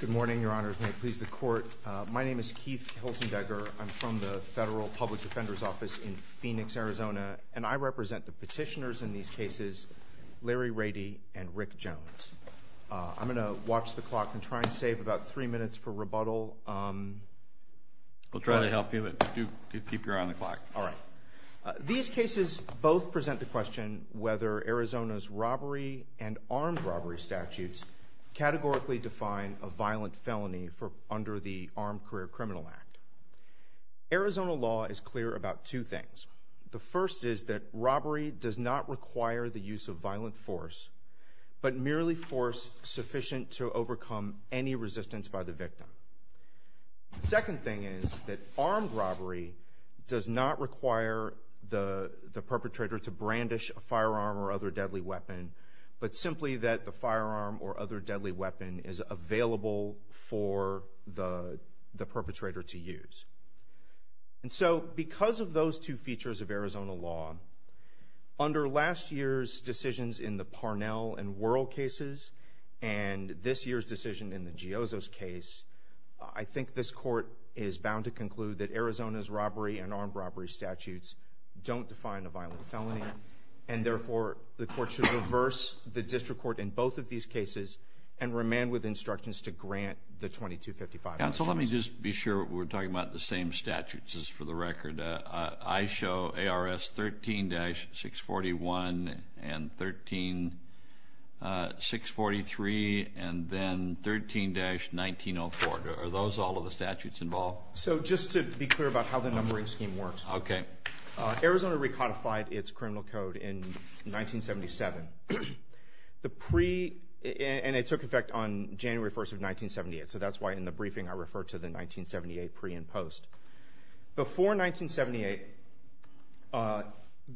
Good morning, your honors. May it please the court. My name is Keith Hilzenbeger. I'm from the Federal Public Defender's Office in Phoenix, Arizona, and I represent the petitioners in these cases, Larry Rady and Rick Jones. I'm going to watch the clock and try and save about three minutes for rebuttal. We'll try to help you, but do keep your eye on the clock. All right. These cases both present the question whether Arizona's robbery and armed robbery statutes categorically define a violent felony under the Armed Career Criminal Act. Arizona law is clear about two things. The first is that robbery does not require the use of violent force, but merely force sufficient to overcome any resistance by the victim. The second thing is that armed robbery does not require the perpetrator to brandish a firearm or other deadly weapon, but simply that the firearm or other deadly weapon is available for the perpetrator to use. And so because of those two features of Arizona law, under last year's decisions in the Parnell and Wuerl cases and this year's decision in the Giozzo's case, I think this court is bound to conclude that Arizona's robbery and armed robbery statutes don't define a violent felony. And therefore, the court should reverse the district court in both of these cases and remand with instructions to grant the 2255. So let me just be sure we're talking about the same statutes, just for the record. I show ARS 13-641 and 13-643 and then 13-1904. Are those all of the statutes involved? So just to be clear about how the numbering scheme works. Okay. Arizona recodified its criminal code in 1977. And it took effect on January 1st of 1978, so that's why in the briefing I refer to the 1978 pre and post. Before 1978,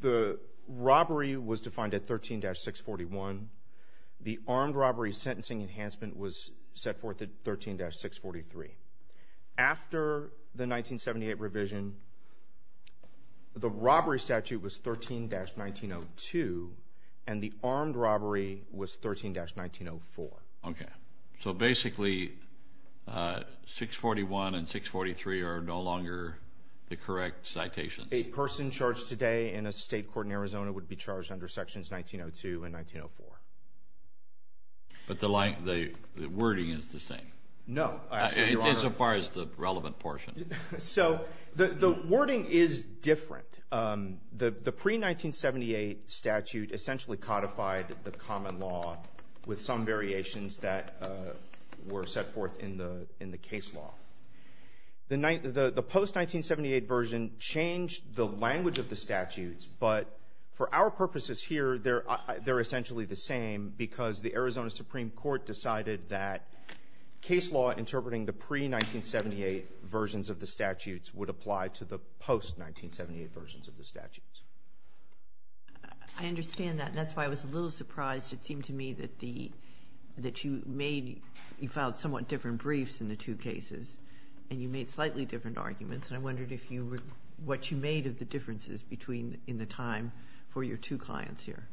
the robbery was defined at 13-641. The armed robbery sentencing enhancement was set forth at 13-643. After the 1978 revision, the robbery statute was 13-1902 and the armed robbery was 13-1904. Okay. So basically, 641 and 643 are no longer the correct citations. A person charged today in a state court in Arizona would be charged under sections 1902 and 1904. But the wording is the same. No. As far as the relevant portion. So the wording is different. The pre-1978 statute essentially codified the common law with some variations that were set forth in the case law. The post-1978 version changed the language of the statutes. But for our purposes here, they're essentially the same because the Arizona Supreme Court decided that case law interpreting the pre-1978 versions of the statutes would apply to the post-1978 versions of the statutes. I understand that. That's why I was a little surprised. It seemed to me that you made you filed somewhat different briefs in the two cases, and you made slightly different arguments. And I wondered what you made of the differences in the time for your two clients here.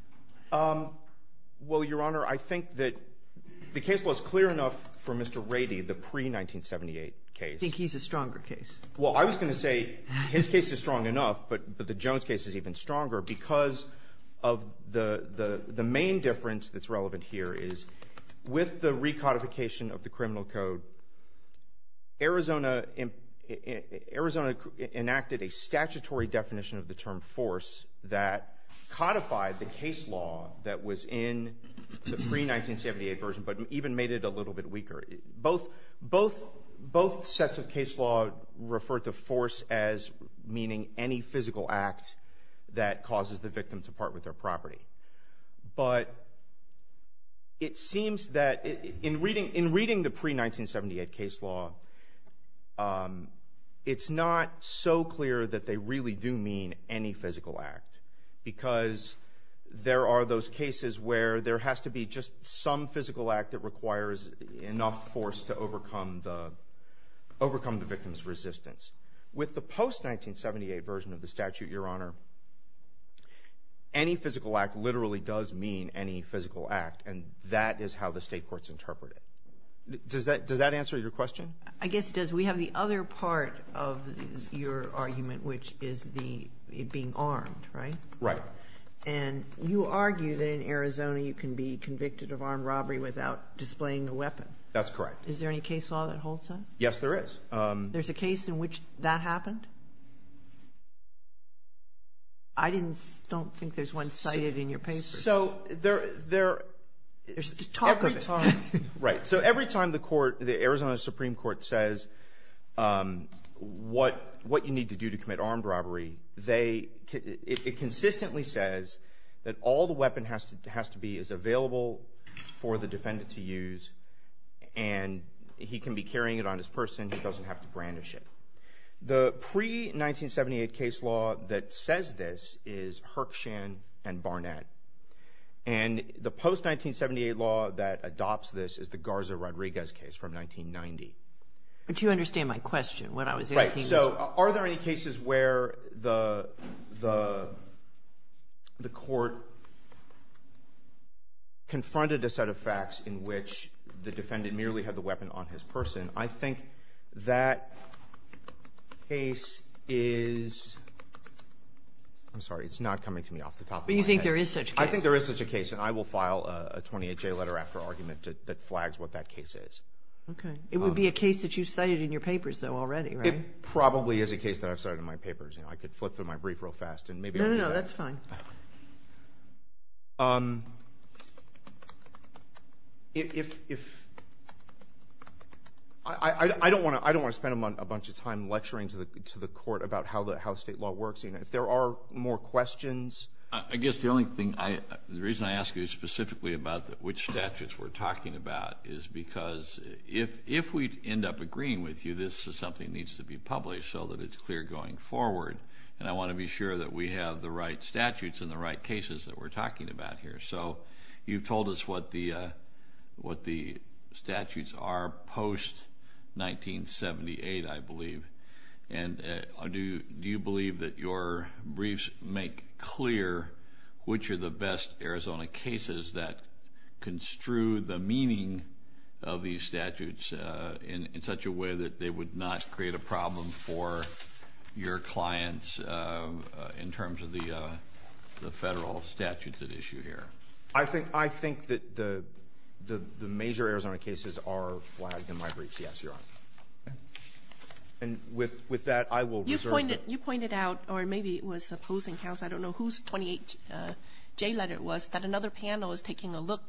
Well, Your Honor, I think that the case law is clear enough for Mr. Rady, the pre-1978 case. I think he's a stronger case. Well, I was going to say his case is strong enough, but the Jones case is even stronger because of the main difference that's relevant here is with the recodification of the criminal code, Arizona enacted a statutory definition of the term force that codified the case law that was in the pre-1978 version but even made it a little bit weaker. Both sets of case law refer to force as meaning any physical act that causes the victim to part with their property. But it seems that in reading the pre-1978 case law, it's not so clear that they really do mean any physical act, because there are those cases where there has to be just some physical act that requires enough force to overcome the victim's resistance. With the post-1978 version of the statute, Your Honor, any physical act literally does mean any physical act, and that is how the State courts interpret it. Does that answer your question? I guess it does. We have the other part of your argument, which is the being armed, right? Right. And you argue that in Arizona you can be convicted of armed robbery without displaying a weapon. That's correct. Is there any case law that holds that? Yes, there is. There's a case in which that happened? I don't think there's one cited in your paper. So there are – Just talk of it. Right. So every time the court, the Arizona Supreme Court, says what you need to do to commit armed robbery, it consistently says that all the weapon has to be is available for the defendant to use, and he can be carrying it on his person. He doesn't have to brandish it. The pre-1978 case law that says this is Hirkshan and Barnett, and the post-1978 law that adopts this is the Garza-Rodriguez case from 1990. But you understand my question. What I was asking was – the defendant merely had the weapon on his person. I think that case is – I'm sorry, it's not coming to me off the top of my head. But you think there is such a case? I think there is such a case, and I will file a 28-J letter after argument that flags what that case is. Okay. It would be a case that you cited in your papers, though, already, right? It probably is a case that I've cited in my papers. I could flip through my brief real fast and maybe I'll do that. No, no, no, that's fine. If – I don't want to spend a bunch of time lecturing to the court about how state law works. If there are more questions. I guess the only thing – the reason I ask you specifically about which statutes we're talking about is because if we end up agreeing with you, this is something that needs to be published so that it's clear going forward. And I want to be sure that we have the right statutes and the right cases that we're talking about here. So you've told us what the statutes are post-1978, I believe. And do you believe that your briefs make clear which are the best Arizona cases that construe the meaning of these statutes in such a way that they would not create a problem for your clients in terms of the Federal statutes at issue here? I think that the major Arizona cases are flagged in my briefs, yes, Your Honor. And with that, I will reserve the – You pointed out, or maybe it was opposing counsel, I don't know whose 28J letter it was, that another panel is taking a look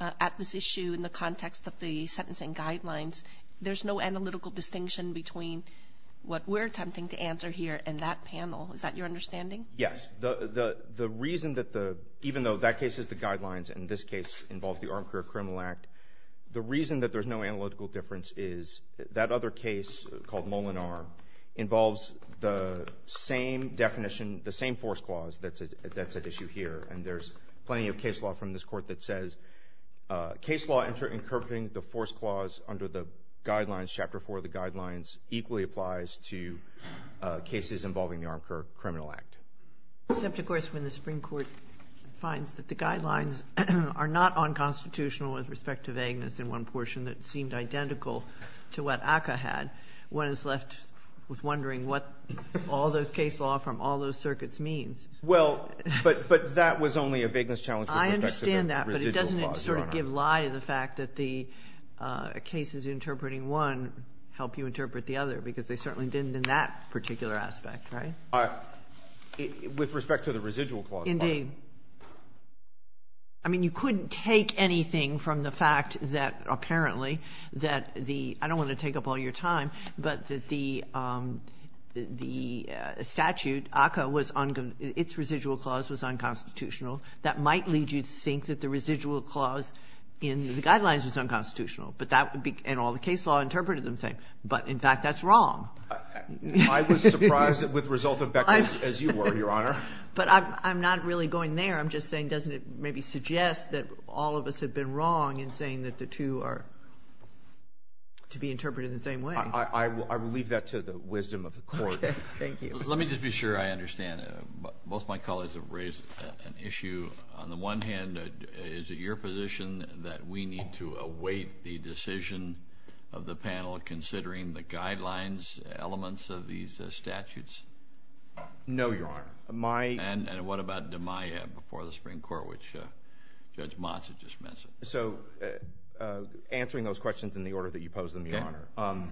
at this issue in the context of the sentencing guidelines. There's no analytical distinction between what we're attempting to answer here and that panel. Is that your understanding? Yes. The reason that the – even though that case is the guidelines and this case involves the Armed Career Criminal Act, the reason that there's no analytical difference is that other case called Molinar involves the same definition, the same force clause that's at issue here. And there's plenty of case law from this Court that says, case law interinterpreting the force clause under the guidelines, Chapter 4 of the guidelines, equally applies to cases involving the Armed Career Criminal Act. Except, of course, when the Supreme Court finds that the guidelines are not unconstitutional with respect to vagueness in one portion that seemed identical to what ACCA had, one is left with wondering what all those case law from all those circuits means. Well, but that was only a vagueness challenge with respect to the residual clause. You sort of give lie to the fact that the cases interpreting one help you interpret the other because they certainly didn't in that particular aspect, right? With respect to the residual clause. Indeed. I mean, you couldn't take anything from the fact that apparently that the – I don't want to take up all your time, but that the statute, ACCA, was – its residual clause was unconstitutional. That might lead you to think that the residual clause in the guidelines was unconstitutional. But that would be – and all the case law interpreted them the same. But, in fact, that's wrong. I was surprised with the result of Beckman's, as you were, Your Honor. But I'm not really going there. I'm just saying doesn't it maybe suggest that all of us have been wrong in saying that the two are to be interpreted the same way? I will leave that to the wisdom of the Court. Thank you. Let me just be sure I understand. Both my colleagues have raised an issue. On the one hand, is it your position that we need to await the decision of the panel considering the guidelines elements of these statutes? No, Your Honor. And what about DMIA before the Supreme Court, which Judge Motz has just mentioned? So answering those questions in the order that you posed them, Your Honor. Okay.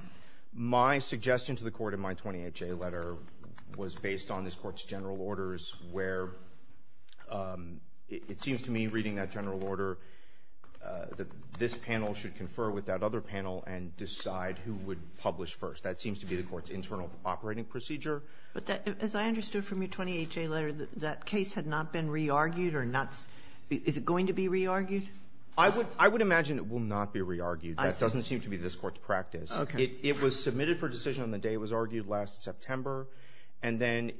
My suggestion to the Court in my 28J letter was based on this Court's general orders where it seems to me, reading that general order, that this panel should confer with that other panel and decide who would publish first. That seems to be the Court's internal operating procedure. But as I understood from your 28J letter, that case had not been re-argued or not – is it going to be re-argued? I would imagine it will not be re-argued. That doesn't seem to be this Court's practice. It was submitted for decision on the day it was argued, last September. And then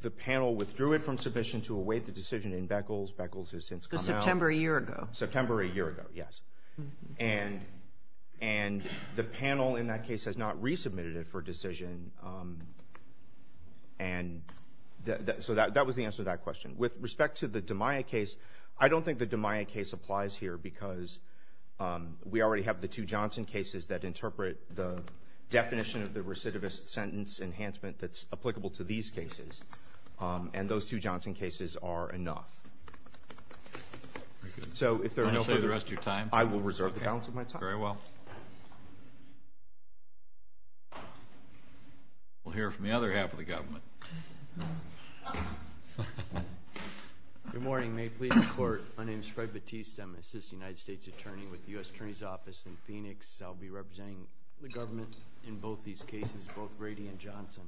the panel withdrew it from submission to await the decision in Beckles. Beckles has since come out. September a year ago. September a year ago, yes. And the panel in that case has not resubmitted it for decision. And so that was the answer to that question. With respect to the DMIA case, I don't think the DMIA case applies here because we already have the two Johnson cases that interpret the definition of the recidivist sentence enhancement that's applicable to these cases. And those two Johnson cases are enough. So if there are no further – Do you want to say the rest of your time? I will reserve the balance of my time. Okay. Very well. We'll hear from the other half of the government. Good morning. May it please the Court, my name is Fred Batiste. I'm an assistant United States attorney with the U.S. Attorney's Office in Phoenix. I'll be representing the government in both these cases, both Brady and Johnson.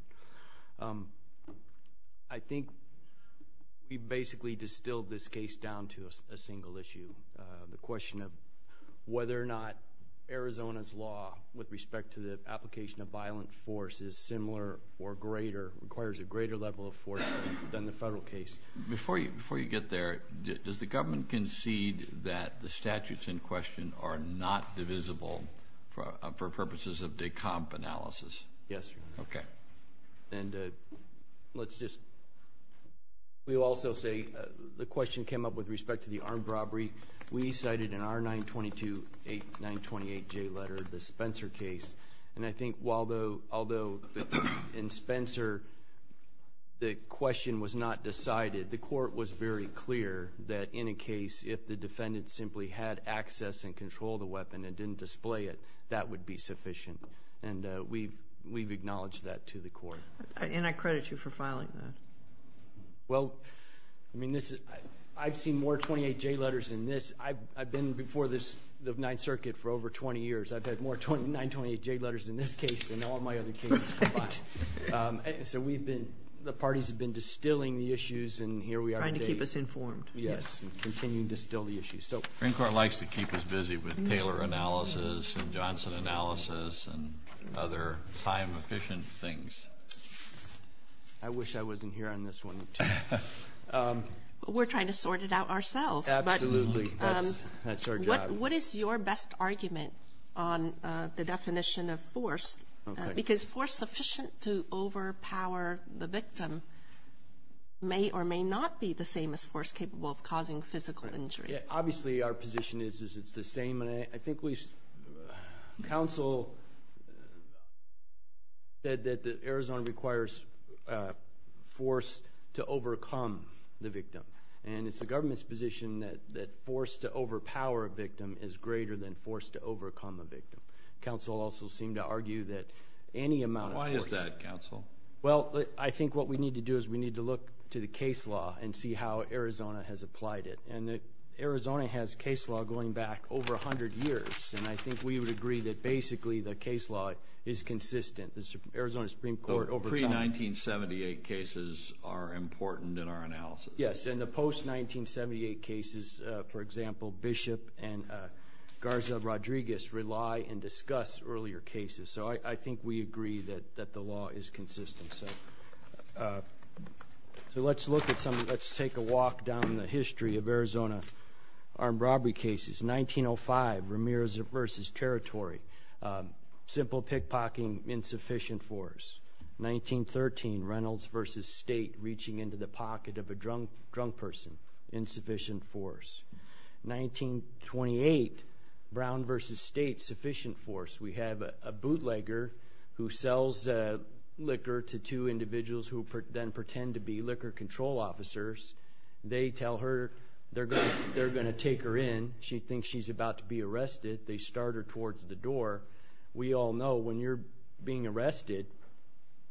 I think we basically distilled this case down to a single issue, the question of whether or not Arizona's law with respect to the application of violent force is similar or greater, requires a greater level of force than the federal case. Before you get there, does the government concede that the statutes in question are not divisible for purposes of de comp analysis? Yes, Your Honor. Okay. And let's just – we will also say the question came up with respect to the armed robbery. We cited in our 922-8928J letter the Spencer case. And I think although in Spencer the question was not decided, the Court was very clear that in a case if the defendant simply had access and control of the weapon and didn't display it, that would be sufficient. And we've acknowledged that to the Court. And I credit you for filing that. Well, I mean, I've seen more 28-J letters than this. I've been before the Ninth Circuit for over 20 years. I've had more 928-J letters in this case than all my other cases combined. So we've been – the parties have been distilling the issues, and here we are today. Trying to keep us informed. Yes, and continue to distill the issues. The Supreme Court likes to keep us busy with Taylor analysis and Johnson analysis and other time-efficient things. I wish I wasn't here on this one, too. Absolutely. That's our job. What is your best argument on the definition of force? Because force sufficient to overpower the victim may or may not be the same as force capable of causing physical injury. Obviously our position is it's the same. And I think we've – counsel said that Arizona requires force to overcome the victim. And it's the government's position that force to overpower a victim is greater than force to overcome a victim. Counsel also seemed to argue that any amount of force. Why is that, counsel? Well, I think what we need to do is we need to look to the case law and see how Arizona has applied it. And Arizona has case law going back over 100 years, and I think we would agree that basically the case law is consistent. The Arizona Supreme Court over time. The pre-1978 cases are important in our analysis. Yes, and the post-1978 cases, for example, Bishop and Garza Rodriguez, rely and discuss earlier cases. So I think we agree that the law is consistent. So let's look at some – let's take a walk down the history of Arizona armed robbery cases. 1905, Ramirez v. Territory, simple pickpocketing, insufficient force. 1913, Reynolds v. State, reaching into the pocket of a drunk person, insufficient force. 1928, Brown v. State, sufficient force. We have a bootlegger who sells liquor to two individuals who then pretend to be liquor control officers. They tell her they're going to take her in. She thinks she's about to be arrested. They start her towards the door. We all know when you're being arrested,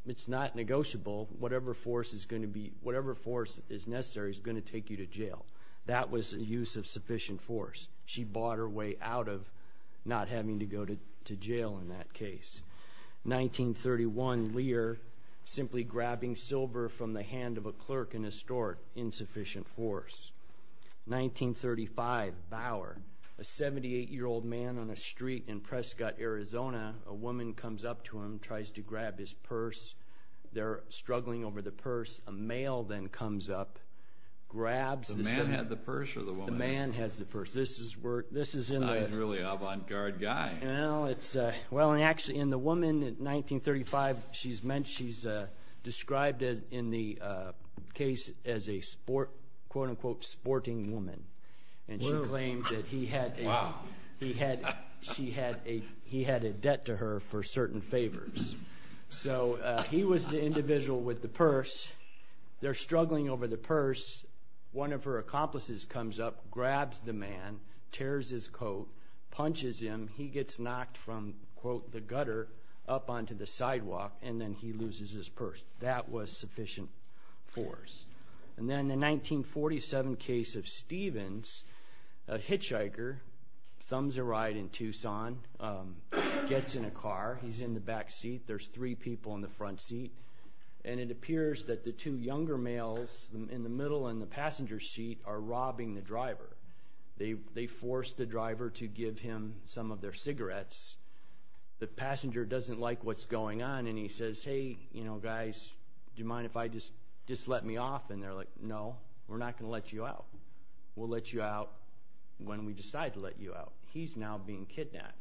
it's not negotiable. Whatever force is going to be – whatever force is necessary is going to take you to jail. That was a use of sufficient force. She bought her way out of not having to go to jail in that case. 1931, Lear, simply grabbing silver from the hand of a clerk in a store, insufficient force. 1935, Bauer, a 78-year-old man on a street in Prescott, Arizona. A woman comes up to him, tries to grab his purse. They're struggling over the purse. A male then comes up, grabs the – The man had the purse or the woman had the purse? The man has the purse. This is in the – He's really an avant-garde guy. Actually, in the woman in 1935, she's described in the case as a quote-unquote sporting woman. She claimed that he had a debt to her for certain favors. He was the individual with the purse. They're struggling over the purse. One of her accomplices comes up, grabs the man, tears his coat, punches him. He gets knocked from, quote, the gutter up onto the sidewalk, and then he loses his purse. That was sufficient force. And then the 1947 case of Stevens, a hitchhiker, thumbs a ride in Tucson, gets in a car. He's in the back seat. There's three people in the front seat. And it appears that the two younger males in the middle in the passenger seat are robbing the driver. They force the driver to give him some of their cigarettes. The passenger doesn't like what's going on, and he says, Hey, you know, guys, do you mind if I just let me off? And they're like, No, we're not going to let you out. We'll let you out when we decide to let you out. He's now being kidnapped.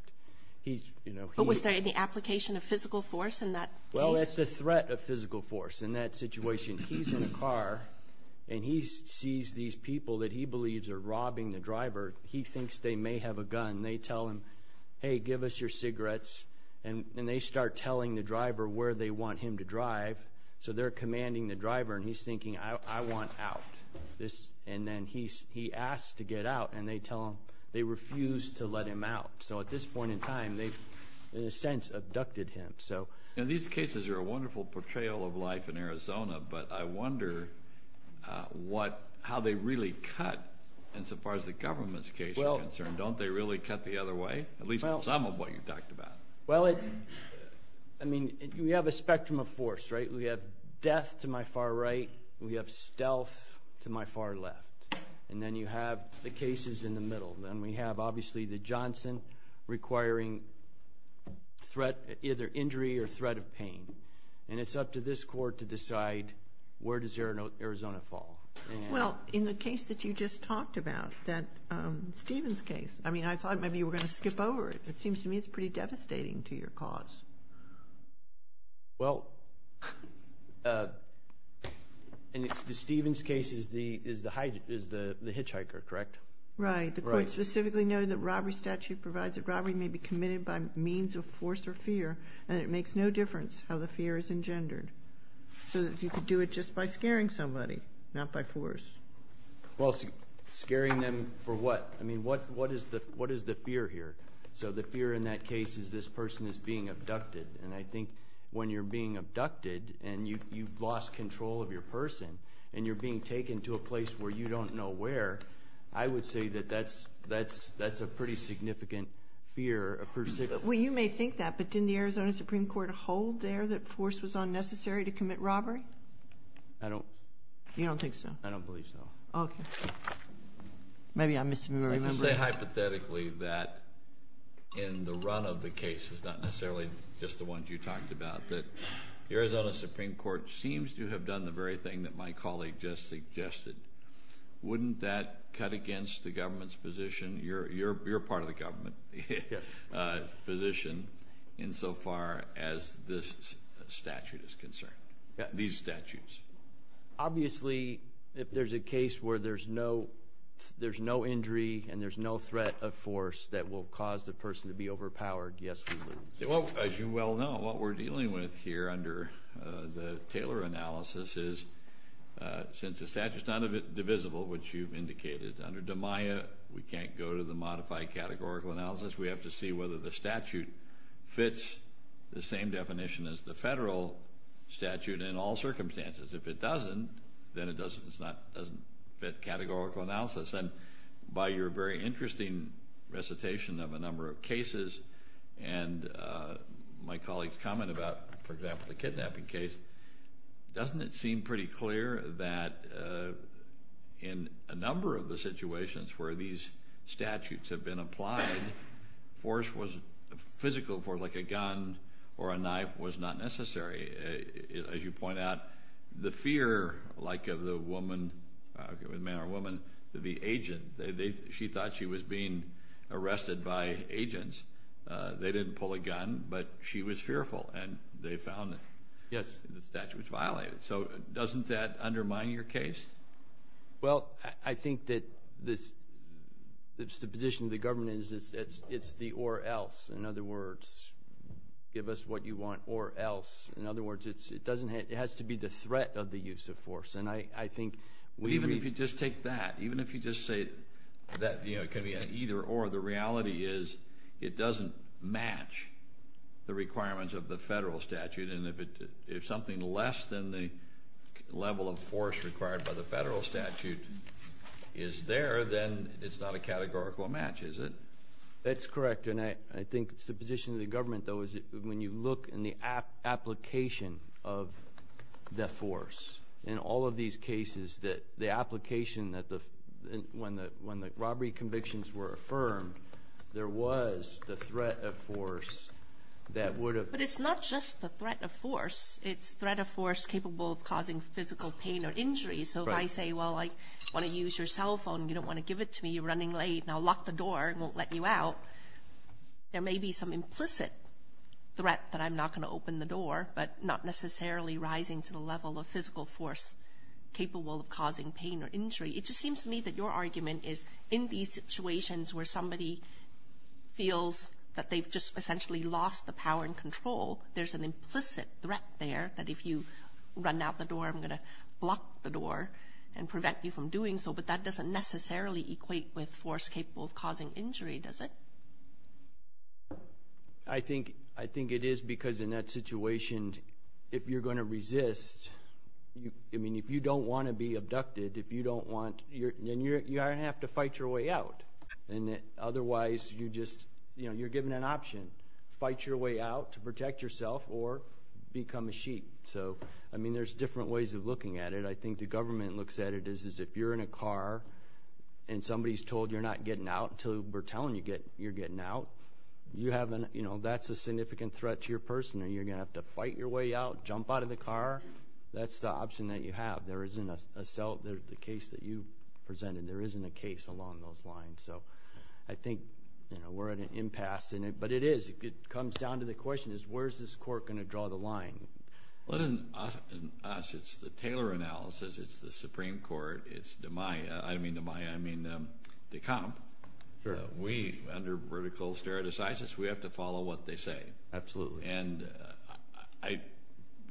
But was there any application of physical force in that case? Well, it's a threat of physical force in that situation. He's in a car, and he sees these people that he believes are robbing the driver. He thinks they may have a gun. They tell him, Hey, give us your cigarettes. And they start telling the driver where they want him to drive. So they're commanding the driver, and he's thinking, I want out. And then he asks to get out, and they tell him they refuse to let him out. So at this point in time, they've, in a sense, abducted him. These cases are a wonderful portrayal of life in Arizona, but I wonder how they really cut insofar as the government's case is concerned. Don't they really cut the other way, at least some of what you talked about? Well, I mean, we have a spectrum of force, right? We have death to my far right. We have stealth to my far left. And then you have the cases in the middle. And we have, obviously, the Johnson requiring either injury or threat of pain. And it's up to this court to decide where does Arizona fall. Well, in the case that you just talked about, that Stevens case, I mean, I thought maybe you were going to skip over it. It seems to me it's pretty devastating to your cause. Well, the Stevens case is the hitchhiker, correct? Right. The court specifically noted that robbery statute provides that robbery may be committed by means of force or fear, and it makes no difference how the fear is engendered. So you could do it just by scaring somebody, not by force. Well, scaring them for what? I mean, what is the fear here? So the fear in that case is this person is being abducted. And I think when you're being abducted and you've lost control of your person and you're being taken to a place where you don't know where, I would say that that's a pretty significant fear. Well, you may think that, but didn't the Arizona Supreme Court hold there that force was unnecessary to commit robbery? I don't. You don't think so? I don't believe so. Okay. Maybe I'm misremembering. Let me say hypothetically that in the run of the case, it's not necessarily just the ones you talked about, that the Arizona Supreme Court seems to have done the very thing that my colleague just suggested. Wouldn't that cut against the government's position? You're part of the government's position insofar as this statute is concerned, these statutes. Obviously, if there's a case where there's no injury and there's no threat of force that will cause the person to be overpowered, yes, we lose. As you well know, what we're dealing with here under the Taylor analysis is, since the statute's not divisible, which you've indicated, under DMIA, we can't go to the modified categorical analysis. We have to see whether the statute fits the same definition as the federal statute in all circumstances. If it doesn't, then it doesn't fit categorical analysis. And by your very interesting recitation of a number of cases and my colleague's comment about, for example, the kidnapping case, doesn't it seem pretty clear that in a number of the situations where these statutes have been applied, force was physical, like a gun or a knife, was not necessary. As you point out, the fear, like of the woman, man or woman, the agent, she thought she was being arrested by agents. They didn't pull a gun, but she was fearful, and they found it. The statute was violated. So doesn't that undermine your case? Well, I think that the position of the government is it's the or else. In other words, give us what you want or else. In other words, it has to be the threat of the use of force. Even if you just take that, even if you just say that it can be an either or, the reality is it doesn't match the requirements of the federal statute. And if something less than the level of force required by the federal statute is there, then it's not a categorical match, is it? That's correct. And I think it's the position of the government, though, is when you look in the application of the force in all of these cases, the application that when the robbery convictions were affirmed, there was the threat of force that would have. But it's not just the threat of force. It's threat of force capable of causing physical pain or injury. So if I say, well, I want to use your cell phone, you don't want to give it to me, you're running late, and I'll lock the door and won't let you out, there may be some implicit threat that I'm not going to open the door, but not necessarily rising to the level of physical force capable of causing pain or injury. It just seems to me that your argument is in these situations where somebody feels that they've just essentially lost the power and control, there's an implicit threat there that if you run out the door, I'm going to block the door and prevent you from doing so. But that doesn't necessarily equate with force capable of causing injury, does it? I think it is because in that situation, if you're going to resist, I mean, if you don't want to be abducted, if you don't want to you're going to have to fight your way out. Otherwise, you're given an option. Fight your way out to protect yourself or become a sheep. So, I mean, there's different ways of looking at it. I think the government looks at it as if you're in a car and somebody's told you're not getting out until we're telling you you're getting out. That's a significant threat to your person, and you're going to have to fight your way out, jump out of the car. That's the option that you have. There isn't a cell, the case that you presented, and there isn't a case along those lines. So I think we're at an impasse. But it is. It comes down to the question is where is this court going to draw the line? Well, it isn't us. It's the Taylor analysis. It's the Supreme Court. It's DeMaia. I don't mean DeMaia. I mean DeKalb. We, under vertical stare decisis, we have to follow what they say. Absolutely. And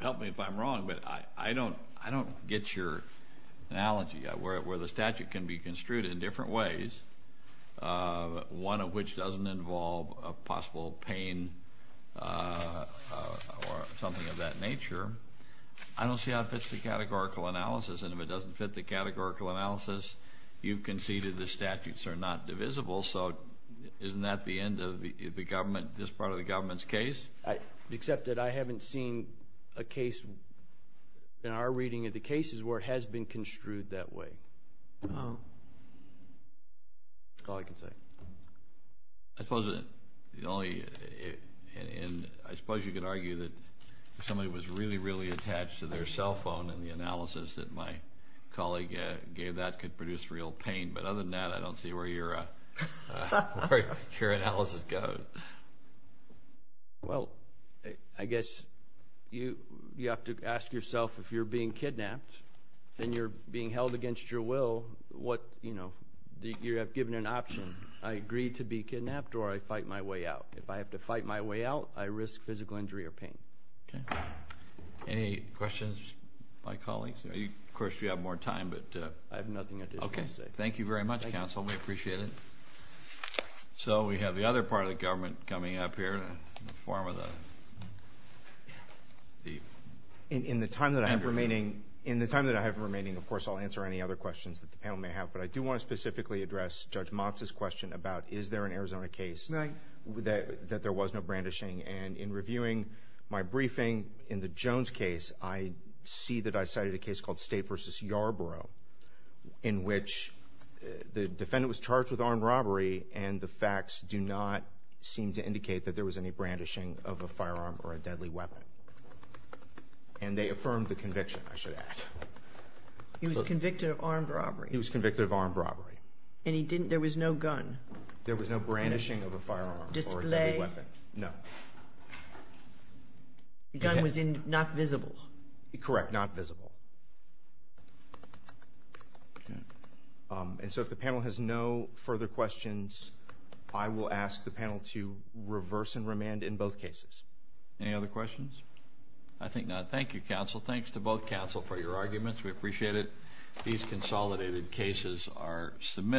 help me if I'm wrong, but I don't get your analogy. Where the statute can be construed in different ways, one of which doesn't involve a possible pain or something of that nature, I don't see how it fits the categorical analysis. And if it doesn't fit the categorical analysis, you've conceded the statutes are not divisible. So isn't that the end of the government, this part of the government's case? Except that I haven't seen a case in our reading of the cases where it has been construed that way. That's all I can say. I suppose you could argue that somebody was really, really attached to their cell phone and the analysis that my colleague gave that could produce real pain. But other than that, I don't see where your analysis goes. Well, I guess you have to ask yourself if you're being kidnapped and you're being held against your will, you're given an option. I agree to be kidnapped or I fight my way out. If I have to fight my way out, I risk physical injury or pain. Any questions, my colleagues? Of course, you have more time. I have nothing additional to say. Thank you very much, Counsel. We appreciate it. So we have the other part of the government coming up here. In the time that I have remaining, of course, I'll answer any other questions that the panel may have. But I do want to specifically address Judge Motz's question about is there an Arizona case that there was no brandishing. And in reviewing my briefing in the Jones case, I see that I cited a case called State v. Yarborough in which the defendant was charged with armed robbery and the facts do not seem to indicate that there was any brandishing of a firearm or a deadly weapon. And they affirmed the conviction, I should add. He was convicted of armed robbery. He was convicted of armed robbery. And he didn't – there was no gun? There was no brandishing of a firearm or a deadly weapon. Display? No. The gun was not visible? Correct. Not visible. And so if the panel has no further questions, I will ask the panel to reverse and remand in both cases. Any other questions? I think not. Thank you, Counsel. Thanks to both counsel for your arguments. We appreciate it. These consolidated cases are submitted.